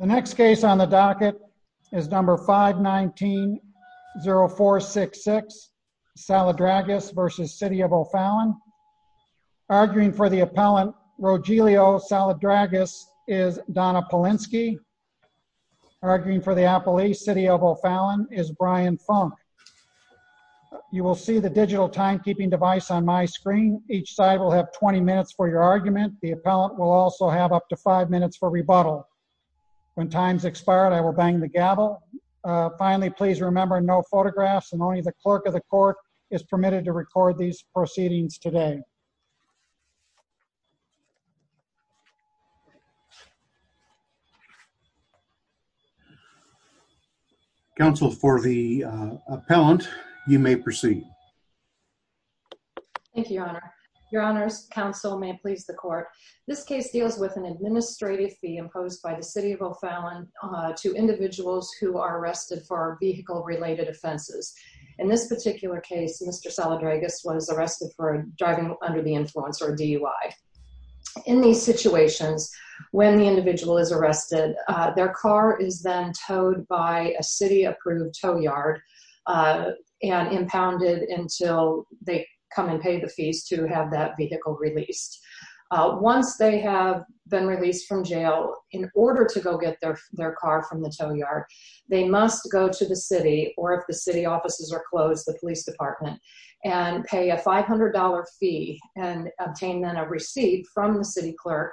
The next case on the docket is number 519-0466 Saladrigas v. City of O'Fallon Arguing for the appellant, Rogelio Saladrigas, is Donna Polinsky Arguing for the appellee, City of O'Fallon, is Brian Funk You will see the digital timekeeping device on my screen The appellant will also have up to 5 minutes for rebuttal When time is expired, I will bang the gavel Finally, please remember no photographs and only the clerk of the court is permitted to record these proceedings today Counsel, for the appellant, you may proceed Thank you, Your Honor Your Honors, Counsel, may it please the court This case deals with an administrative fee imposed by the City of O'Fallon to individuals who are arrested for vehicle-related offenses In this particular case, Mr. Saladrigas was arrested for driving under the influence, or DUI In these situations, when the individual is arrested, their car is then towed by a city-approved tow yard and impounded until they come and pay the fees to have that vehicle released Once they have been released from jail, in order to go get their car from the tow yard they must go to the city, or if the city offices are closed, the police department and pay a $500 fee and obtain then a receipt from the city clerk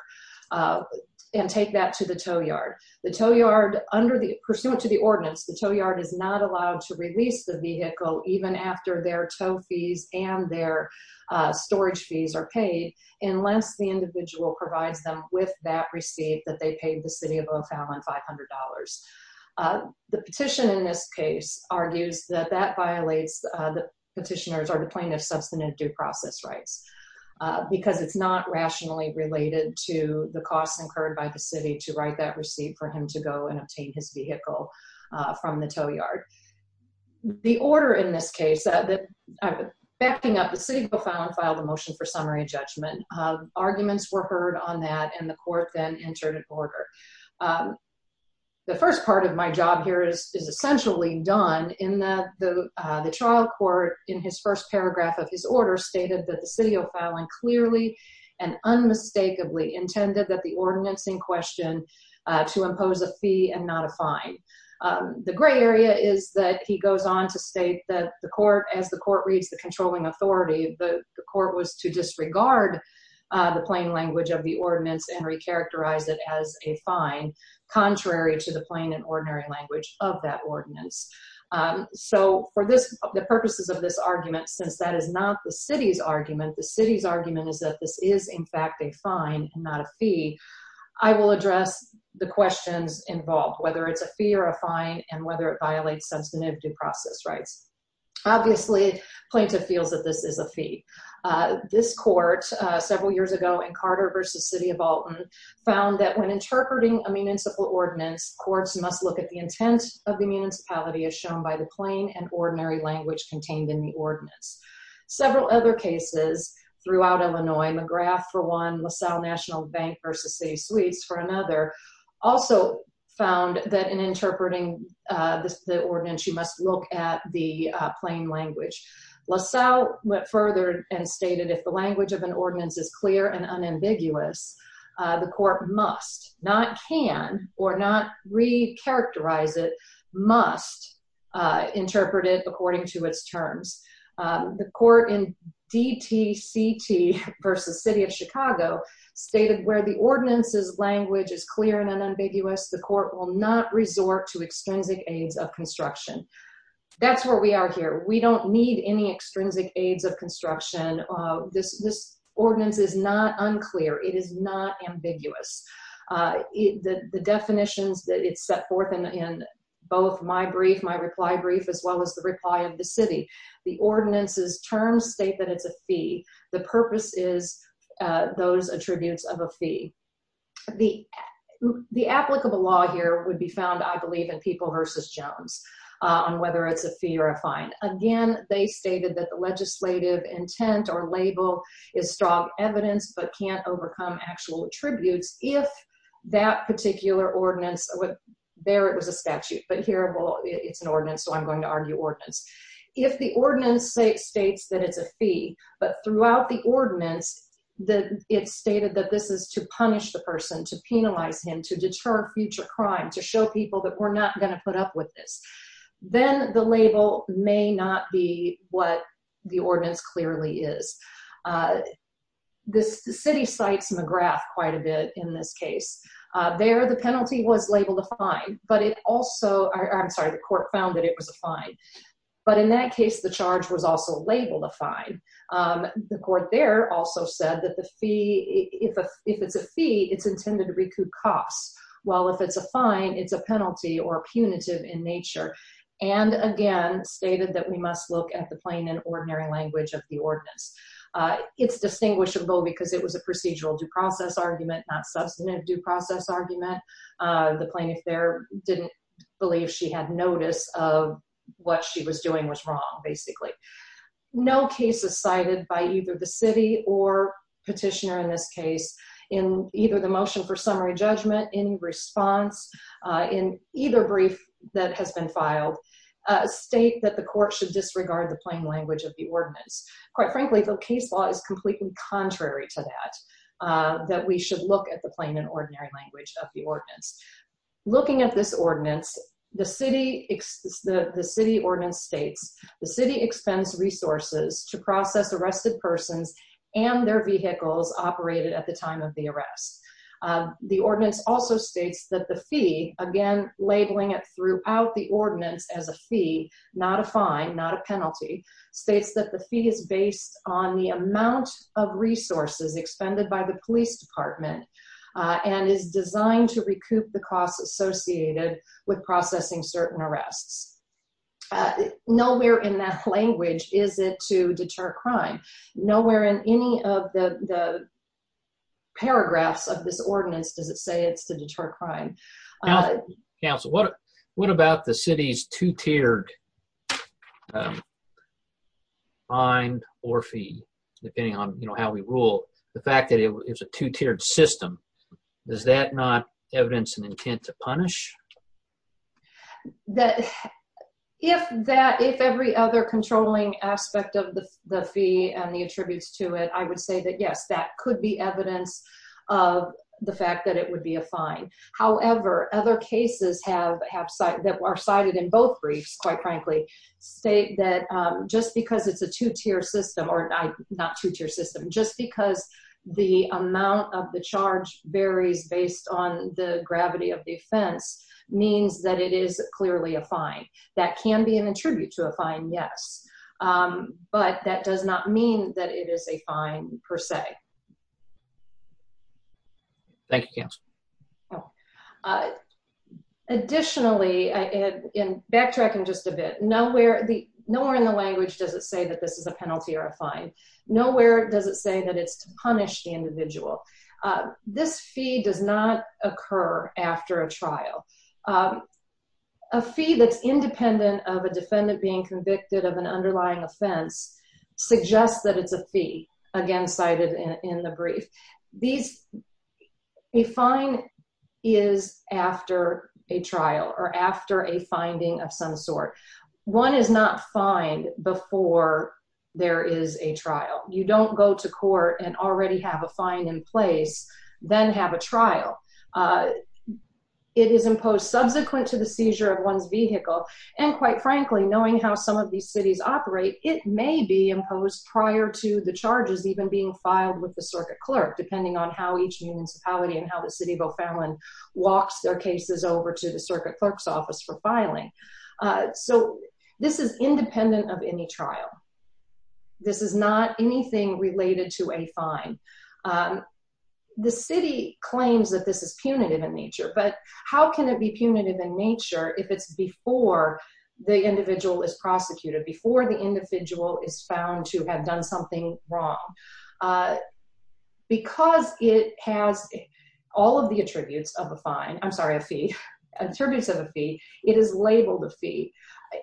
and take that to the tow yard Pursuant to the ordinance, the tow yard is not allowed to release the vehicle even after their tow fees and their storage fees are paid unless the individual provides them with that receipt that they paid the City of O'Fallon $500 The petition in this case argues that that violates the petitioner's or the plaintiff's substantive due process rights because it's not rationally related to the costs incurred by the city to write that receipt for him to go and obtain his vehicle from the tow yard The order in this case, backing up, the City of O'Fallon filed a motion for summary judgment Arguments were heard on that, and the court then entered an order The first part of my job here is essentially done in that the trial court in his first paragraph of his order stated that the City of O'Fallon clearly and unmistakably intended that the ordinance in question to impose a fee and not a fine The gray area is that he goes on to state that the court, as the court reads the controlling authority the court was to disregard the plain language of the ordinance and recharacterize it as a fine contrary to the plain and ordinary language of that ordinance For the purposes of this argument, since that is not the city's argument the city's argument is that this is in fact a fine and not a fee I will address the questions involved, whether it's a fee or a fine and whether it violates substantive due process rights Obviously, the plaintiff feels that this is a fee This court, several years ago in Carter v. City of Alton found that when interpreting a municipal ordinance courts must look at the intent of the municipality as shown by the plain and ordinary language contained in the ordinance Several other cases throughout Illinois, McGrath for one, LaSalle National Bank v. City Suites for another also found that in interpreting the ordinance you must look at the plain language LaSalle went further and stated if the language of an ordinance is clear and unambiguous the court must, not can, or not recharacterize it must interpret it according to its terms The court in D.T.C.T. v. City of Chicago stated where the ordinance's language is clear and unambiguous the court will not resort to extrinsic aids of construction That's where we are here. We don't need any extrinsic aids of construction This ordinance is not unclear. It is not ambiguous The definitions that it set forth in both my brief, my reply brief, as well as the reply of the city The ordinance's terms state that it's a fee The purpose is those attributes of a fee The applicable law here would be found, I believe, in People v. Jones on whether it's a fee or a fine Again, they stated that the legislative intent or label is strong evidence but can't overcome actual attributes If that particular ordinance, there it was a statute but here it's an ordinance, so I'm going to argue ordinance If the ordinance states that it's a fee but throughout the ordinance it's stated that this is to punish the person to penalize him, to deter future crime, to show people that we're not going to put up with this then the label may not be what the ordinance clearly is The city cites McGrath quite a bit in this case There the penalty was labeled a fine but it also, I'm sorry, the court found that it was a fine but in that case the charge was also labeled a fine The court there also said that if it's a fee, it's intended to recoup costs while if it's a fine, it's a penalty or a punitive in nature and again stated that we must look at the plain and ordinary language of the ordinance It's distinguishable because it was a procedural due process argument not substantive due process argument The plaintiff there didn't believe she had notice of what she was doing was wrong, basically No cases cited by either the city or petitioner in this case in either the motion for summary judgment, in response, in either brief that has been filed state that the court should disregard the plain language of the ordinance Quite frankly, the case law is completely contrary to that that we should look at the plain and ordinary language of the ordinance Looking at this ordinance, the city ordinance states The city expends resources to process arrested persons and their vehicles operated at the time of the arrest The ordinance also states that the fee, again, labeling it throughout the ordinance as a fee not a fine, not a penalty states that the fee is based on the amount of resources expended by the police department and is designed to recoup the costs associated with processing certain arrests Nowhere in that language is it to deter crime Nowhere in any of the paragraphs of this ordinance does it say it's to deter crime Counsel, what about the city's two-tiered fine or fee, depending on how we rule The fact that it's a two-tiered system, does that not evidence an intent to punish? If every other controlling aspect of the fee and the attributes to it I would say that yes, that could be evidence of the fact that it would be a fine However, other cases that are cited in both briefs, quite frankly state that just because it's a two-tier system, or not two-tier system just because the amount of the charge varies based on the gravity of the offense means that it is clearly a fine That can be an attribute to a fine, yes But that does not mean that it is a fine, per se Thank you, Counsel Additionally, and backtracking just a bit Nowhere in the language does it say that this is a penalty or a fine Nowhere does it say that it's to punish the individual This fee does not occur after a trial A fee that's independent of a defendant being convicted of an underlying offense suggests that it's a fee, again cited in the brief A fine is after a trial, or after a finding of some sort One is not fined before there is a trial You don't go to court and already have a fine in place, then have a trial It is imposed subsequent to the seizure of one's vehicle And quite frankly, knowing how some of these cities operate it may be imposed prior to the charges even being filed with the circuit clerk depending on how each municipality and how the city of O'Fallon walks their cases over to the circuit clerk's office for filing So this is independent of any trial This is not anything related to a fine The city claims that this is punitive in nature But how can it be punitive in nature if it's before the individual is prosecuted Before the individual is found to have done something wrong Because it has all of the attributes of a fine I'm sorry, a fee Attributes of a fee It is labeled a fee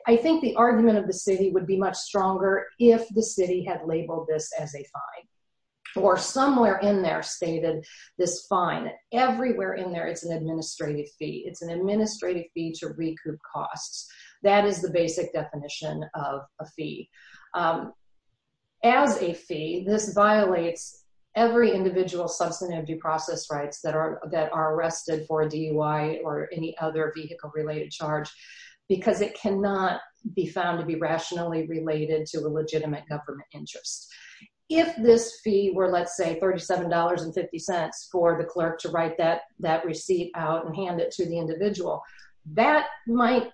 I think the argument of the city would be much stronger if the city had labeled this as a fine Or somewhere in there stated this fine Everywhere in there it's an administrative fee It's an administrative fee to recoup costs That is the basic definition of a fee As a fee, this violates every individual's substantive due process rights that are arrested for a DUI or any other vehicle-related charge Because it cannot be found to be rationally related to a legitimate government interest If this fee were, let's say, $37.50 for the clerk to write that receipt out and hand it to the individual That might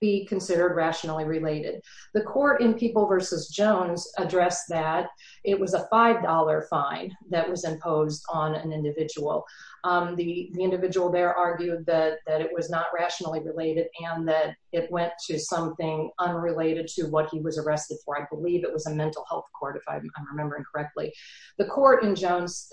be considered rationally related The court in People v. Jones addressed that It was a $5 fine that was imposed on an individual The individual there argued that it was not rationally related And that it went to something unrelated to what he was arrested for I believe it was a mental health court, if I'm remembering correctly The court in Jones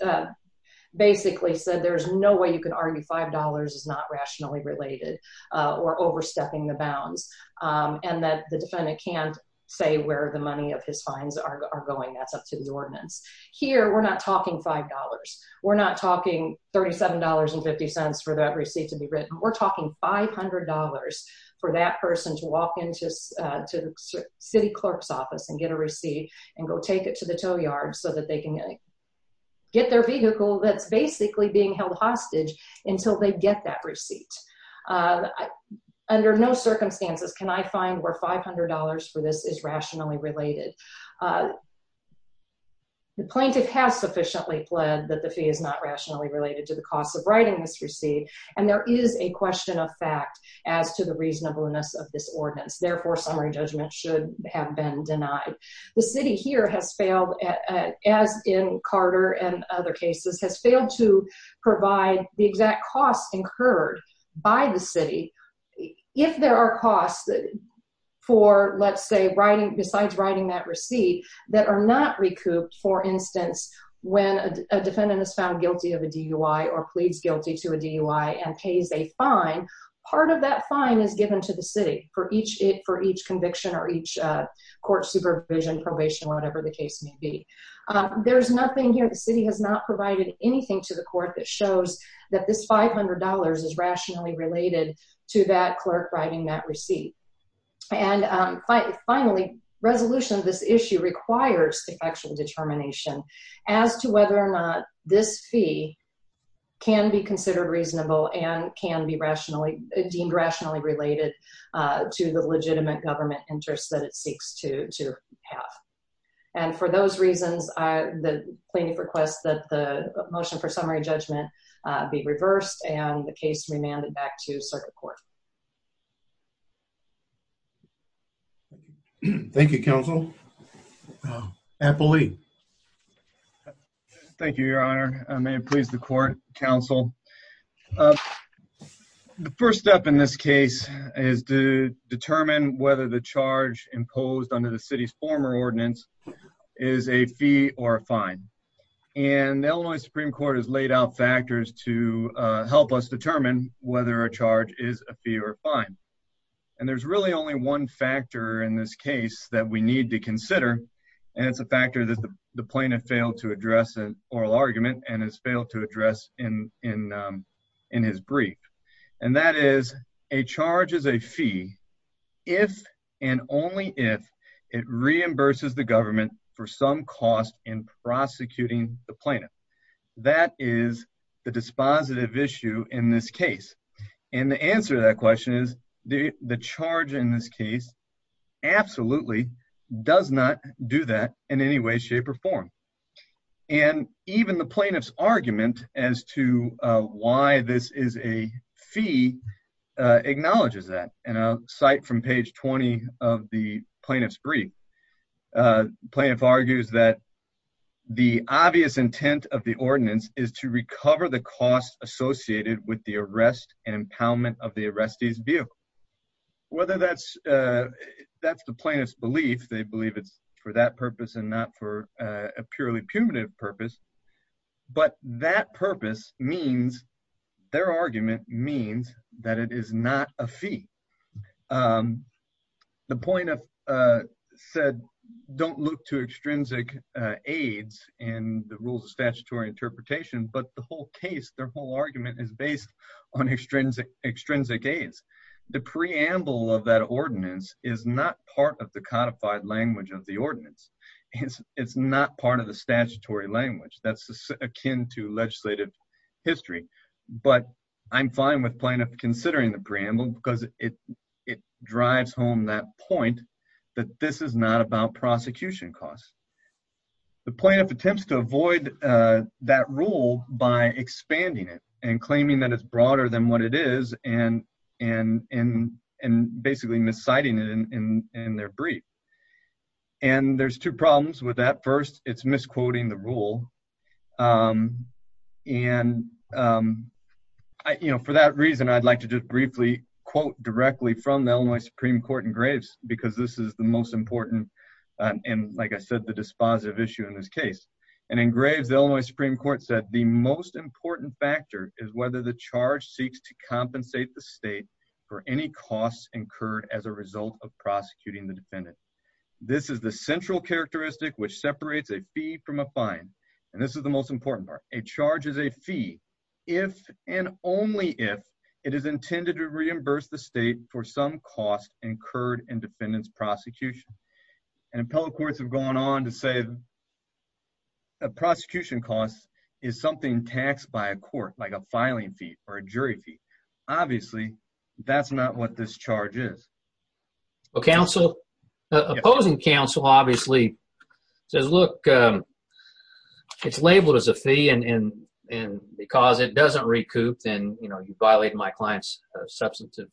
basically said There's no way you can argue $5 is not rationally related Or overstepping the bounds And that the defendant can't say where the money of his fines are going That's up to the ordinance Here, we're not talking $5 We're not talking $37.50 for that receipt to be written We're talking $500 for that person to walk into the city clerk's office And get a receipt and go take it to the tow yard So that they can get their vehicle that's basically being held hostage Until they get that receipt Under no circumstances can I find where $500 for this is rationally related The plaintiff has sufficiently pled that the fee is not rationally related To the cost of writing this receipt And there is a question of fact as to the reasonableness of this ordinance Therefore, summary judgment should have been denied The city here has failed, as in Carter and other cases Has failed to provide the exact cost incurred by the city If there are costs besides writing that receipt That are not recouped, for instance When a defendant is found guilty of a DUI Or pleads guilty to a DUI and pays a fine Part of that fine is given to the city For each conviction or each court supervision, probation, whatever the case may be The city has not provided anything to the court That shows that this $500 is rationally related To that clerk writing that receipt And finally, resolution of this issue requires Effectual determination as to whether or not this fee Can be considered reasonable and can be deemed rationally related To the legitimate government interest that it seeks to have And for those reasons, the plaintiff requests That the motion for summary judgment be reversed And the case be remanded back to circuit court Thank you, counsel Apple Lee Thank you, your honor May it please the court, counsel The first step in this case is to determine Whether the charge imposed under the city's former ordinance Is a fee or a fine And the Illinois Supreme Court has laid out factors To help us determine whether a charge is a fee or a fine And there's really only one factor in this case That we need to consider And it's a factor that the plaintiff failed to address in oral argument And has failed to address in his brief And that is, a charge is a fee If and only if it reimburses the government For some cost in prosecuting the plaintiff That is the dispositive issue in this case And the answer to that question is The charge in this case absolutely does not do that In any way, shape, or form And even the plaintiff's argument as to why this is a fee Acknowledges that And I'll cite from page 20 of the plaintiff's brief The plaintiff argues that The obvious intent of the ordinance Is to recover the cost associated with the arrest And impoundment of the arrestee's vehicle Whether that's the plaintiff's belief They believe it's for that purpose And not for a purely punitive purpose But that purpose means Their argument means that it is not a fee The plaintiff said Don't look to extrinsic aids In the rules of statutory interpretation But the whole case, their whole argument Is based on extrinsic aids The preamble of that ordinance Is not part of the codified language of the ordinance It's not part of the statutory language That's akin to legislative history But I'm fine with plaintiff considering the preamble Because it drives home that point That this is not about prosecution costs The plaintiff attempts to avoid that rule By expanding it And claiming that it's broader than what it is And basically misciting it in their brief And there's two problems with that First, it's misquoting the rule And, you know, for that reason I'd like to just briefly quote directly From the Illinois Supreme Court in Graves Because this is the most important And, like I said, the dispositive issue in this case And in Graves, the Illinois Supreme Court said The most important factor is whether the charge Seeks to compensate the state For any costs incurred as a result of prosecuting the defendant This is the central characteristic And this is the most important part A charge is a fee If and only if It is intended to reimburse the state For some cost incurred in defendant's prosecution And appellate courts have gone on to say That prosecution costs is something taxed by a court Like a filing fee or a jury fee Obviously, that's not what this charge is Well, opposing counsel obviously says Look, it's labeled as a fee And because it doesn't recoup Then, you know, you violate my client's Substantive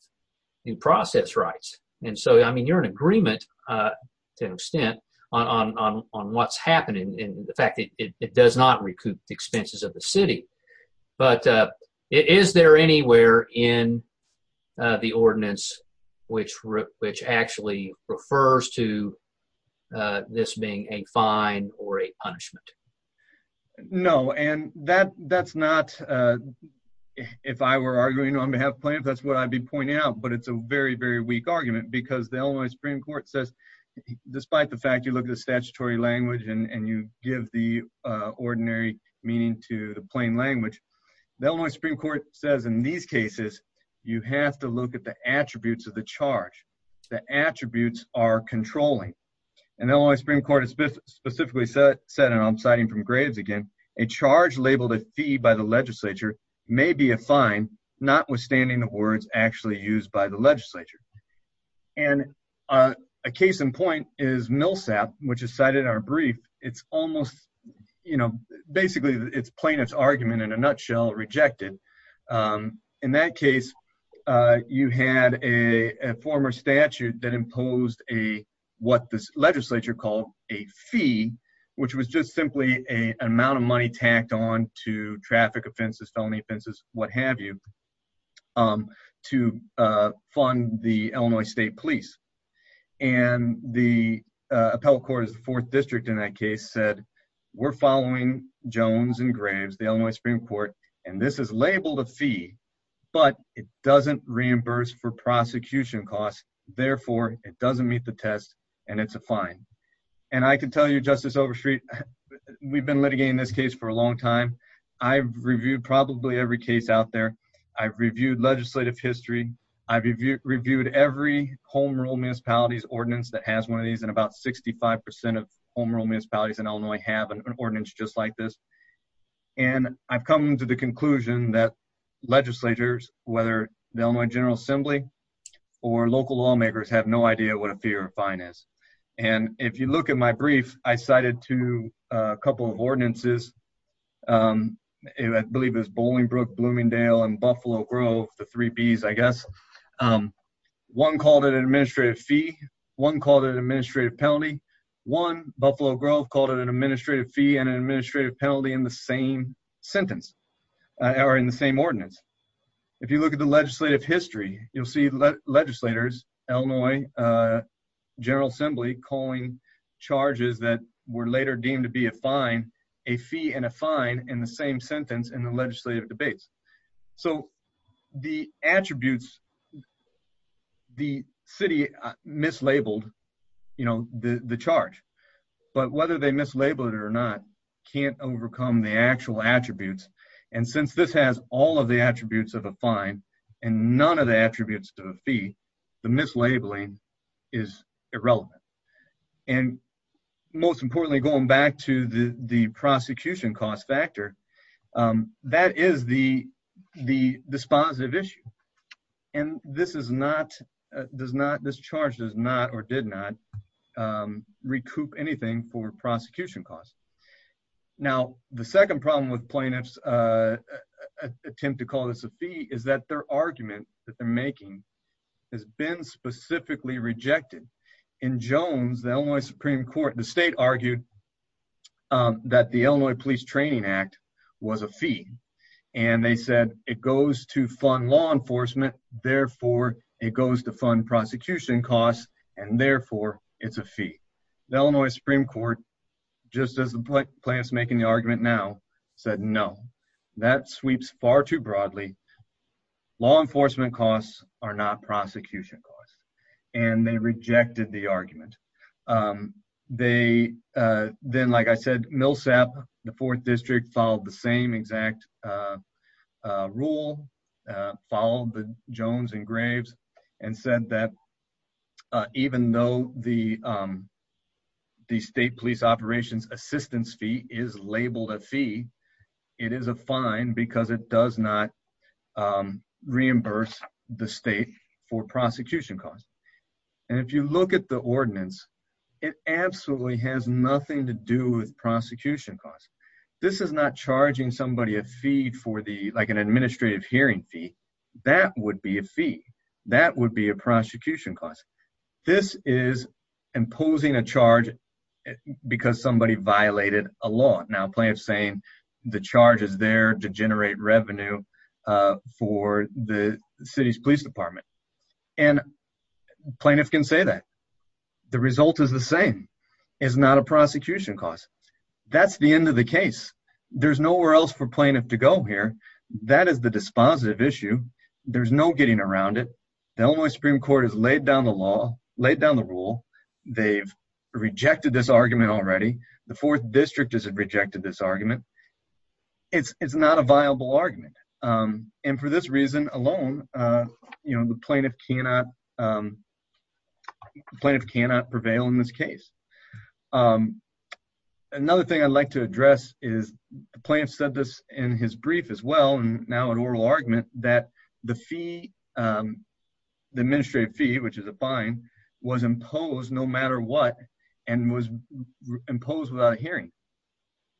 due process rights And so, I mean, you're in agreement To an extent on what's happening And the fact that it does not recoup The expenses of the city But is there anywhere in the ordinance Which actually refers to this being a fine or a punishment? No, and that's not If I were arguing on behalf of plaintiffs That's what I'd be pointing out But it's a very, very weak argument Because the Illinois Supreme Court says Despite the fact you look at the statutory language And you give the ordinary meaning to the plain language The Illinois Supreme Court says in these cases You have to look at the attributes of the charge The attributes are controlling And the Illinois Supreme Court has specifically said And I'm citing from Graves again A charge labeled a fee by the legislature May be a fine notwithstanding the words Actually used by the legislature And a case in point is Millsap Which is cited in our brief It's almost, you know, basically It's plaintiff's argument in a nutshell rejected In that case, you had a former statute That imposed a what this legislature called a fee Which was just simply an amount of money Tacked on to traffic offenses, felony offenses What have you to fund the Illinois State Police And the appellate court is the fourth district In that case said we're following Jones and Graves The Illinois Supreme Court And this is labeled a fee But it doesn't reimburse for prosecution costs Therefore, it doesn't meet the test and it's a fine And I can tell you, Justice Overstreet We've been litigating this case for a long time I've reviewed probably every case out there I've reviewed legislative history I've reviewed every home rule municipalities ordinance That has one of these And about 65% of home rule municipalities in Illinois Have an ordinance just like this And I've come to the conclusion that legislators Whether the Illinois General Assembly Or local lawmakers have no idea what a fee or a fine is And if you look at my brief I cited to a couple of ordinances I believe it was Bolingbrook, Bloomingdale, and Buffalo Grove The three Bs, I guess One called it an administrative fee One called it an administrative penalty One, Buffalo Grove, called it an administrative fee And an administrative penalty in the same sentence Or in the same ordinance If you look at the legislative history You'll see legislators, Illinois General Assembly Calling charges that were later deemed to be a fine A fee and a fine in the same sentence in the legislative debates So the attributes The city mislabeled, you know, the charge But whether they mislabeled it or not Can't overcome the actual attributes And since this has all of the attributes of a fine And none of the attributes of a fee The mislabeling is irrelevant And most importantly, going back to the prosecution cost factor That is the dispositive issue And this charge does not or did not recoup anything for prosecution costs Now, the second problem with plaintiffs' attempt to call this a fee Is that their argument that they're making Has been specifically rejected In Jones, the Illinois Supreme Court The state argued that the Illinois Police Training Act was a fee And they said it goes to fund law enforcement Therefore, it goes to fund prosecution costs And therefore, it's a fee The Illinois Supreme Court, just as the plaintiff's making the argument now Said no, that sweeps far too broadly Law enforcement costs are not prosecution costs And they rejected the argument Then, like I said, Millsap, the 4th District Followed the same exact rule Followed the Jones and Graves And said that even though the state police operations assistance fee Is labeled a fee It is a fine because it does not reimburse the state for prosecution costs And if you look at the ordinance It absolutely has nothing to do with prosecution costs This is not charging somebody a fee for the, like an administrative hearing fee That would be a fee That would be a prosecution cost This is imposing a charge because somebody violated a law Now plaintiff's saying the charge is there to generate revenue For the city's police department And plaintiff can say that The result is the same It's not a prosecution cost That's the end of the case There's nowhere else for plaintiff to go here That is the dispositive issue There's no getting around it The Illinois Supreme Court has laid down the law Laid down the rule They've rejected this argument already The 4th District has rejected this argument It's not a viable argument And for this reason alone The plaintiff cannot prevail in this case Another thing I'd like to address is The plaintiff said this in his brief as well And now in oral argument That the fee The administrative fee Which is a fine Was imposed no matter what And was imposed without a hearing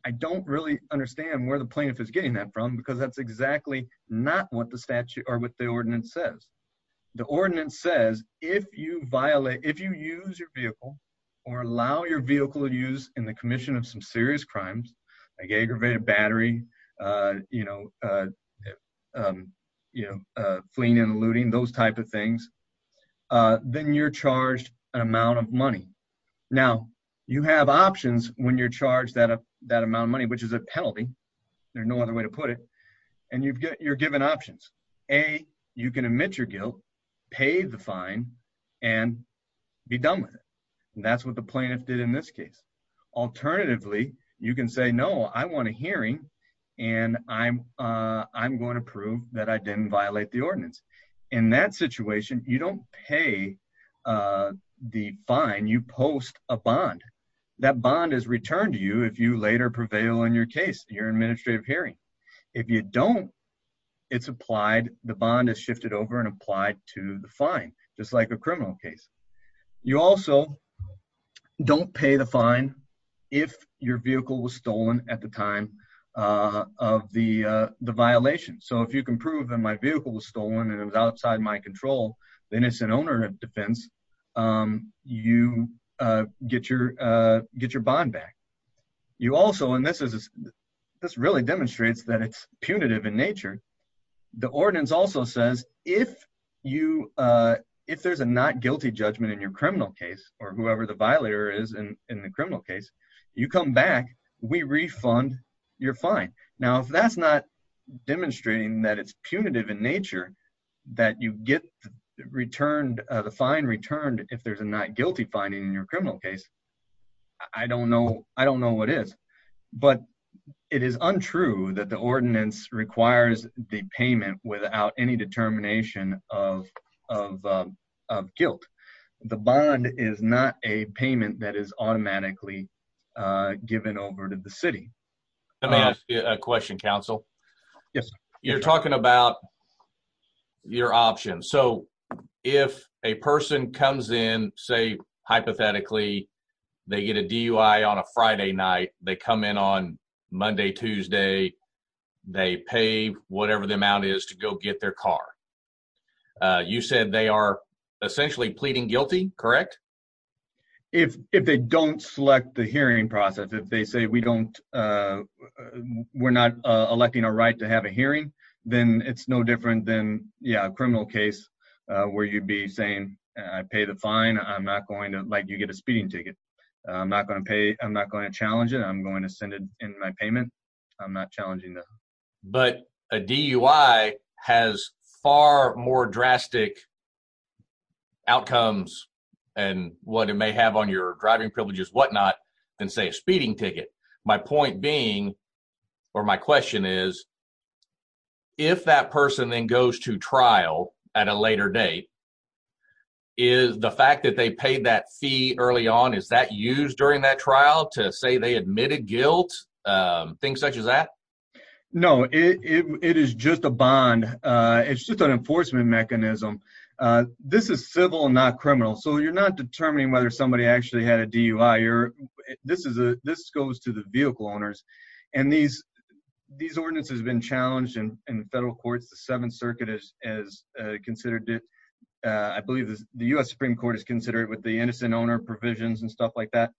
I don't really understand where the plaintiff is getting that from Because that's exactly not what the statute Or what the ordinance says The ordinance says If you use your vehicle Or allow your vehicle to use In the commission of some serious crimes Like aggravated battery You know Fleeing and looting Those type of things Then you're charged An amount of money Now you have options When you're charged that amount of money Which is a penalty There's no other way to put it And you're given options A. You can admit your guilt Pay the fine And be done with it And that's what the plaintiff did in this case Alternatively You can say no I want a hearing And I'm going to prove That I didn't violate the ordinance In that situation You don't pay The fine You post a bond That bond is returned to you If you later prevail in your case Your administrative hearing If you don't It's applied The bond is shifted over And applied to the fine Just like a criminal case You also Don't pay the fine If your vehicle was stolen at the time Of the The violation So if you can prove that my vehicle was stolen And it was outside my control The innocent owner of defense You get your Get your bond back You also And this really demonstrates That it's punitive in nature The ordinance also says If you If there's a not guilty judgment in your criminal case Or whoever the violator is In the criminal case You come back, we refund your fine Now if that's not Demonstrating that it's punitive in nature That you get Returned, the fine returned If there's a not guilty fine in your criminal case I don't know I don't know what is But it is untrue That the ordinance requires The payment without any determination Of Of guilt The bond is not a payment That is automatically Given over to the city Let me ask you a question, counsel Yes You're talking about your options So if a person Comes in, say hypothetically They get a DUI On a Friday night They come in on Monday, Tuesday They pay whatever the amount is To go get their car You said they are Essentially pleading guilty, correct? If they don't Select the hearing process If they say we don't We're not electing a right to have a hearing Then it's no different than Yeah, a criminal case Where you'd be saying I pay the fine, I'm not going to Like you get a speeding ticket I'm not going to challenge it I'm going to send it in my payment I'm not challenging that But a DUI has Far more drastic Outcomes And what it may have on your Driving privileges, whatnot Than say a speeding ticket My point being, or my question is If that person Then goes to trial At a later date Is the fact That they paid that fee early on Is that used during that trial To say they admitted guilt? Things such as that? No, it is just a bond It's just an enforcement mechanism This is civil Not criminal So you're not determining whether somebody actually had a DUI This goes to the Vehicle owners And these ordinances have been challenged In the federal courts The 7th Circuit has Considered it The U.S. Supreme Court has considered it With the innocent owner provisions But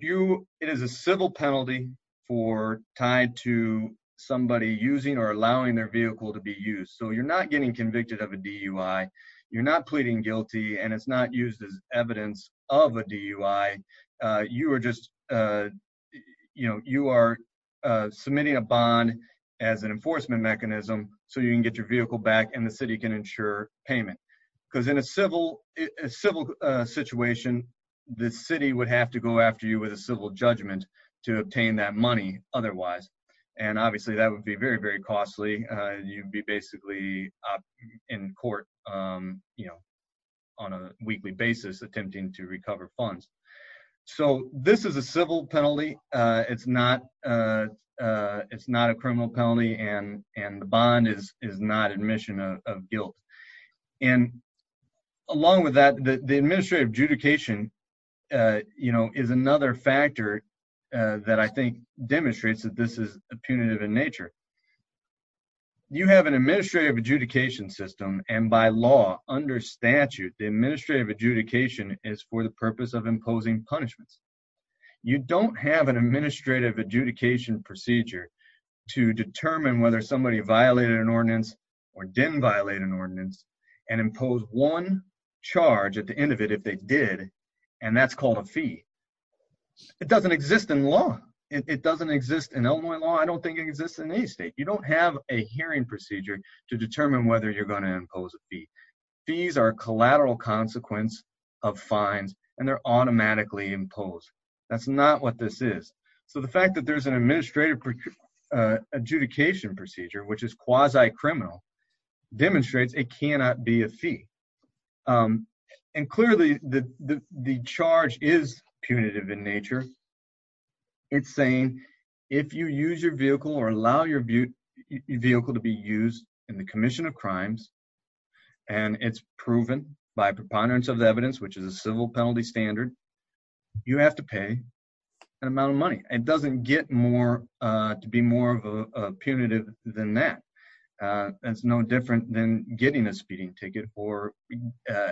it is a civil penalty For tied to Somebody using or allowing Their vehicle to be used So you're not getting convicted of a DUI You're not pleading guilty And it's not used as evidence of a DUI You are just Submitting a bond As an enforcement mechanism So you can get your vehicle back And the city can ensure payment Because in a civil Situation The city would have to go after you with a civil judgment To obtain that money Otherwise And obviously that would be very, very costly You'd be basically In court On a weekly basis Attempting to recover funds So this is a civil penalty It's not It's not a criminal penalty And the bond is not Admission of guilt And along with that The administrative adjudication You know, is another Factor that I think Demonstrates that this is punitive In nature You have an administrative adjudication system And by law, under statute The administrative adjudication Is for the purpose of imposing punishments You don't have An administrative adjudication procedure To determine whether Somebody violated an ordinance Or didn't violate an ordinance And impose one charge At the end of it, if they did And that's called a fee It doesn't exist in law It doesn't exist in Illinois law I don't think it exists in any state You don't have a hearing procedure To determine whether you're going to impose a fee These are collateral consequence Of fines And they're automatically imposed That's not what this is So the fact that there's an administrative Adjudication procedure Which is quasi-criminal Demonstrates it cannot be a fee And clearly The charge Is punitive in nature It's saying If you use your vehicle Or allow your vehicle to be used In the commission of crimes And it's proven By preponderance of the evidence Which is a civil penalty standard You have to pay an amount of money It doesn't get more To be more punitive Than that It's no different than getting a speeding ticket Or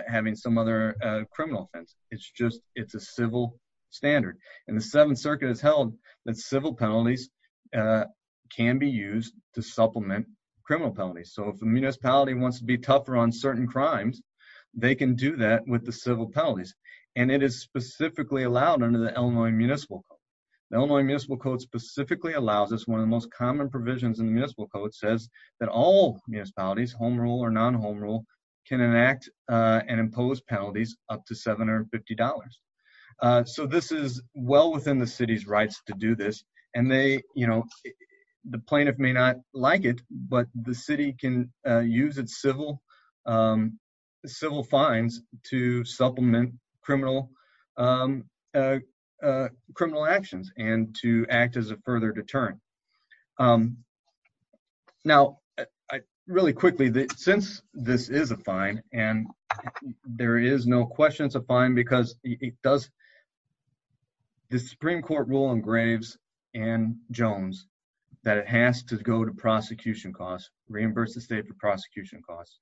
having some other Criminal offense It's a civil standard And the Seventh Circuit has held That civil penalties Can be used to supplement Criminal penalties So if a municipality wants to be tougher On certain crimes They can do that with the civil penalties And it is specifically allowed Under the Illinois Municipal Code The Illinois Municipal Code specifically allows One of the most common provisions in the Municipal Code Says that all municipalities Home rule or non-home rule Can enact and impose penalties Up to $750 So this is well within The city's rights to do this And the plaintiff May not like it But the city can use its civil Civil fines To supplement Criminal Criminal actions And to act as a further deterrent Now Really quickly Since this is a fine And there is no question it's a fine Because it does The Supreme Court rule engraves In Jones That it has to go to prosecution Costs, reimburse the state for prosecution Costs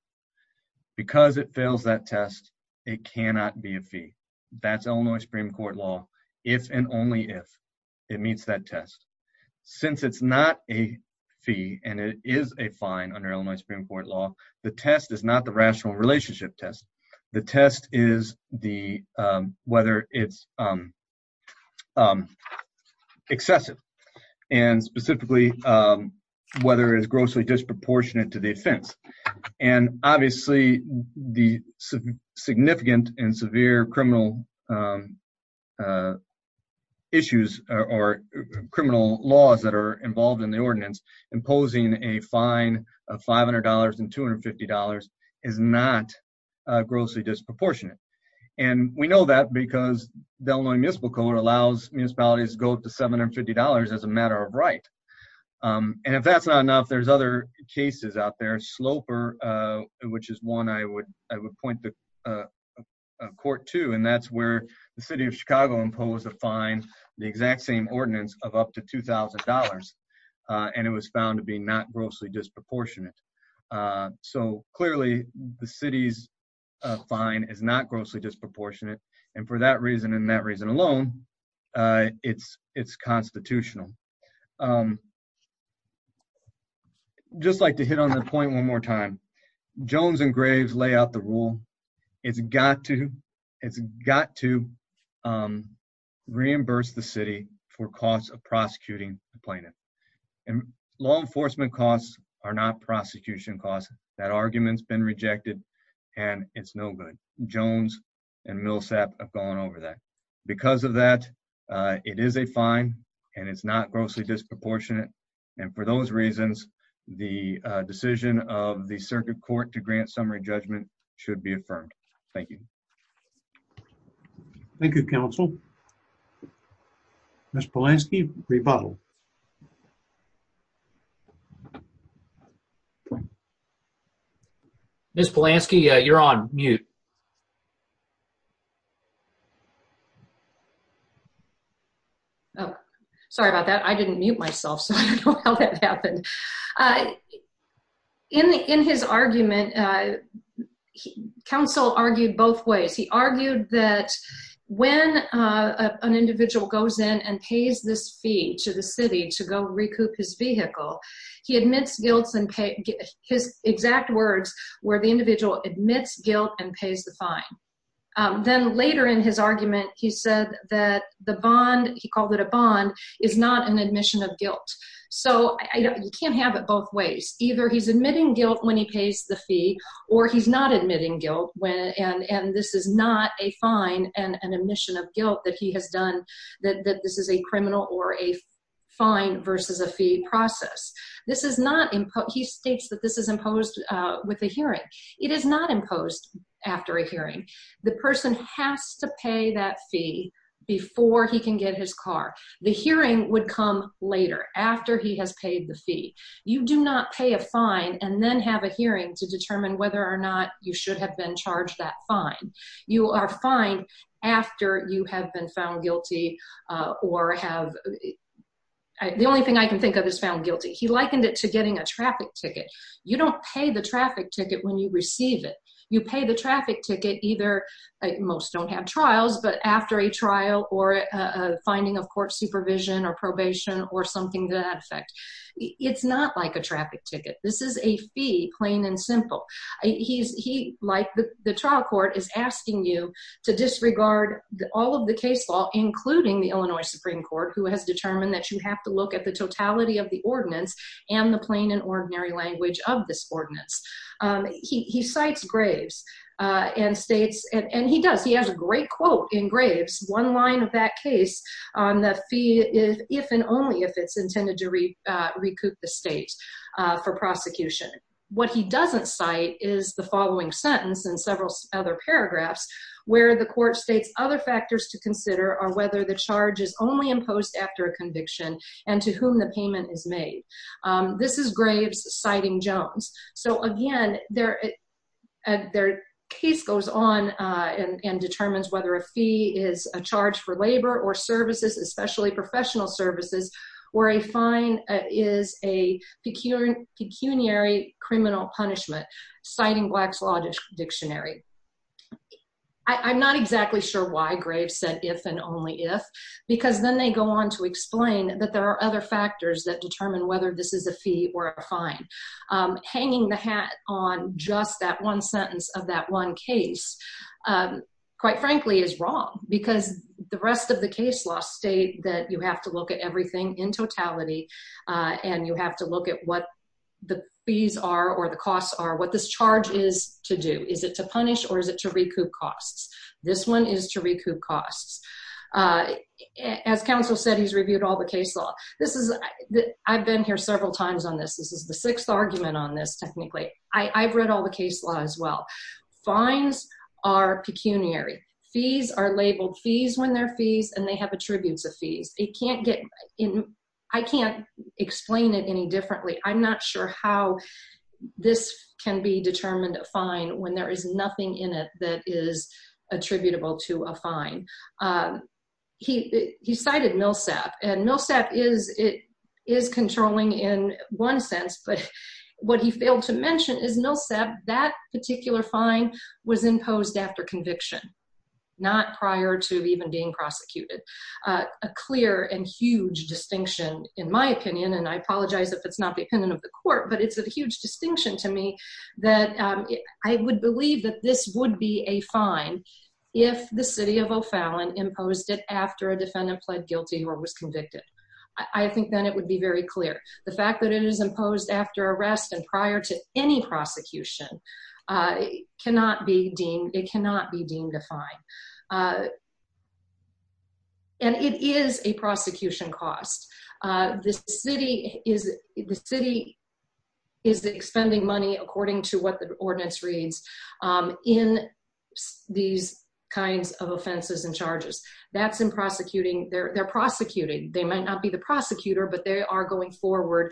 Because it fails that test It cannot be a fee That's Illinois Supreme Court law If and only if it meets that test Since it's not a Fee and it is a fine Under Illinois Supreme Court law The test is not the rational relationship test The test is Whether it's Excessive And specifically Whether it's grossly disproportionate to the offense And obviously The significant And severe criminal Issues Or criminal Laws that are involved in the ordinance Imposing a fine Of $500 and $250 Is not Grossly disproportionate And we know that because The Illinois Municipal Code allows Municipalities to go up to $750 As a matter of right And if that's not enough, there's other cases Out there, Sloper Which is one I would point to Court 2 And that's where the city of Chicago Imposed a fine, the exact same Ordinance of up to $2,000 And it was found to be not Grossly disproportionate So clearly The city's fine is not Grossly disproportionate And for that reason and that reason alone It's constitutional I'd just like to hit on the point one more time Jones and Graves lay out the rule It's got to It's got to Reimburse the city For costs of prosecuting the plaintiff And law enforcement costs Are not prosecution costs That argument's been rejected And it's no good Jones and Millsap have gone over that Because of that It is a fine And it's not grossly disproportionate And for those reasons The decision of the Circuit Court to grant summary judgment Should be affirmed Thank you Thank you, counsel Ms. Polanski, rebuttal Ms. Polanski, you're on mute Sorry about that, I didn't mute myself So I don't know how that happened In his argument Counsel argued both ways He argued that When an individual goes in And pays this fee to the city To go recoup his vehicle He admits guilt and His exact words Where the individual admits guilt And pays the fine Then later in his argument, he said That the bond, he called it a bond Is not an admission of guilt So you can't have it Both ways, either he's admitting guilt When he pays the fee Or he's not admitting guilt And this is not a fine And an admission of guilt that he has done That this is a criminal Or a fine versus a fee process This is not He states that this is imposed With a hearing It is not imposed after a hearing The person has to pay that fee Before he can get his car The hearing would come later After he has paid the fee You do not pay a fine And then have a hearing to determine Whether or not you should have been charged that fine You are fined After you have been found guilty Or have The only thing I can think of Is found guilty He likened it to getting a traffic ticket You don't pay the traffic ticket when you receive it You pay the traffic ticket either Most don't have trials But after a trial or Finding of court supervision or probation Or something to that effect It's not like a traffic ticket This is a fee, plain and simple He, like the trial court Is asking you To disregard all of the case law Including the Illinois Supreme Court Who has determined that you have to look at the totality Of the ordinance And the plain and ordinary language of this ordinance He cites Graves And states And he does, he has a great quote in Graves One line of that case On the fee if and only If it's intended to recoup The state for prosecution What he doesn't cite Is the following sentence And several other paragraphs Where the court states Other factors to consider are whether the charge Is only imposed after a conviction And to whom the payment is made This is Graves citing Jones So again Their case goes on And determines Whether a fee is a charge for labor Or services, especially professional services Where a fine Is a pecuniary Criminal punishment Citing Black's Law Dictionary I'm not exactly sure Why Graves said if and only if Because then they go on to explain That there are other factors That determine whether this is a fee or a fine Hanging the hat On just that one sentence Of that one case Quite frankly is wrong Because the rest of the case law State that you have to look at everything In totality And you have to look at what the fees are Or the costs are What this charge is to do Is it to punish or is it to recoup costs This one is to recoup costs As counsel said He's reviewed all the case law I've been here several times on this This is the sixth argument on this Technically I've read all the case law As well Fines are pecuniary Fees are labeled fees when they're fees And they have attributes of fees It can't get I can't explain it any differently I'm not sure how This can be determined a fine When there is nothing in it that is Attributable to a fine He Cited Millsap And Millsap is controlling In one sense But what he failed to mention is Millsap That particular fine Was imposed after conviction Not prior to even being Prosecuted A clear and huge distinction In my opinion and I apologize If it's not the opinion of the court But it's a huge distinction to me That I would believe That this would be a fine If the city of O'Fallon imposed it After a defendant pled guilty Or was convicted I think then it would be very clear The fact that it is imposed after arrest And prior to any prosecution Cannot be deemed It cannot be deemed a fine Uh And it is a prosecution Cost The city Is expending money According to what the ordinance reads In These kinds of offenses and charges That's in prosecuting They're prosecuting They might not be the prosecutor But they are going forward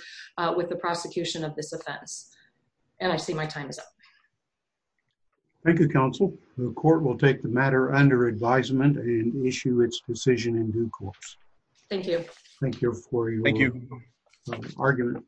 With the prosecution of this offense And I see my time is up Thank you counsel The court will take the matter under advisement And issue its decision in due course Thank you Thank you for your argument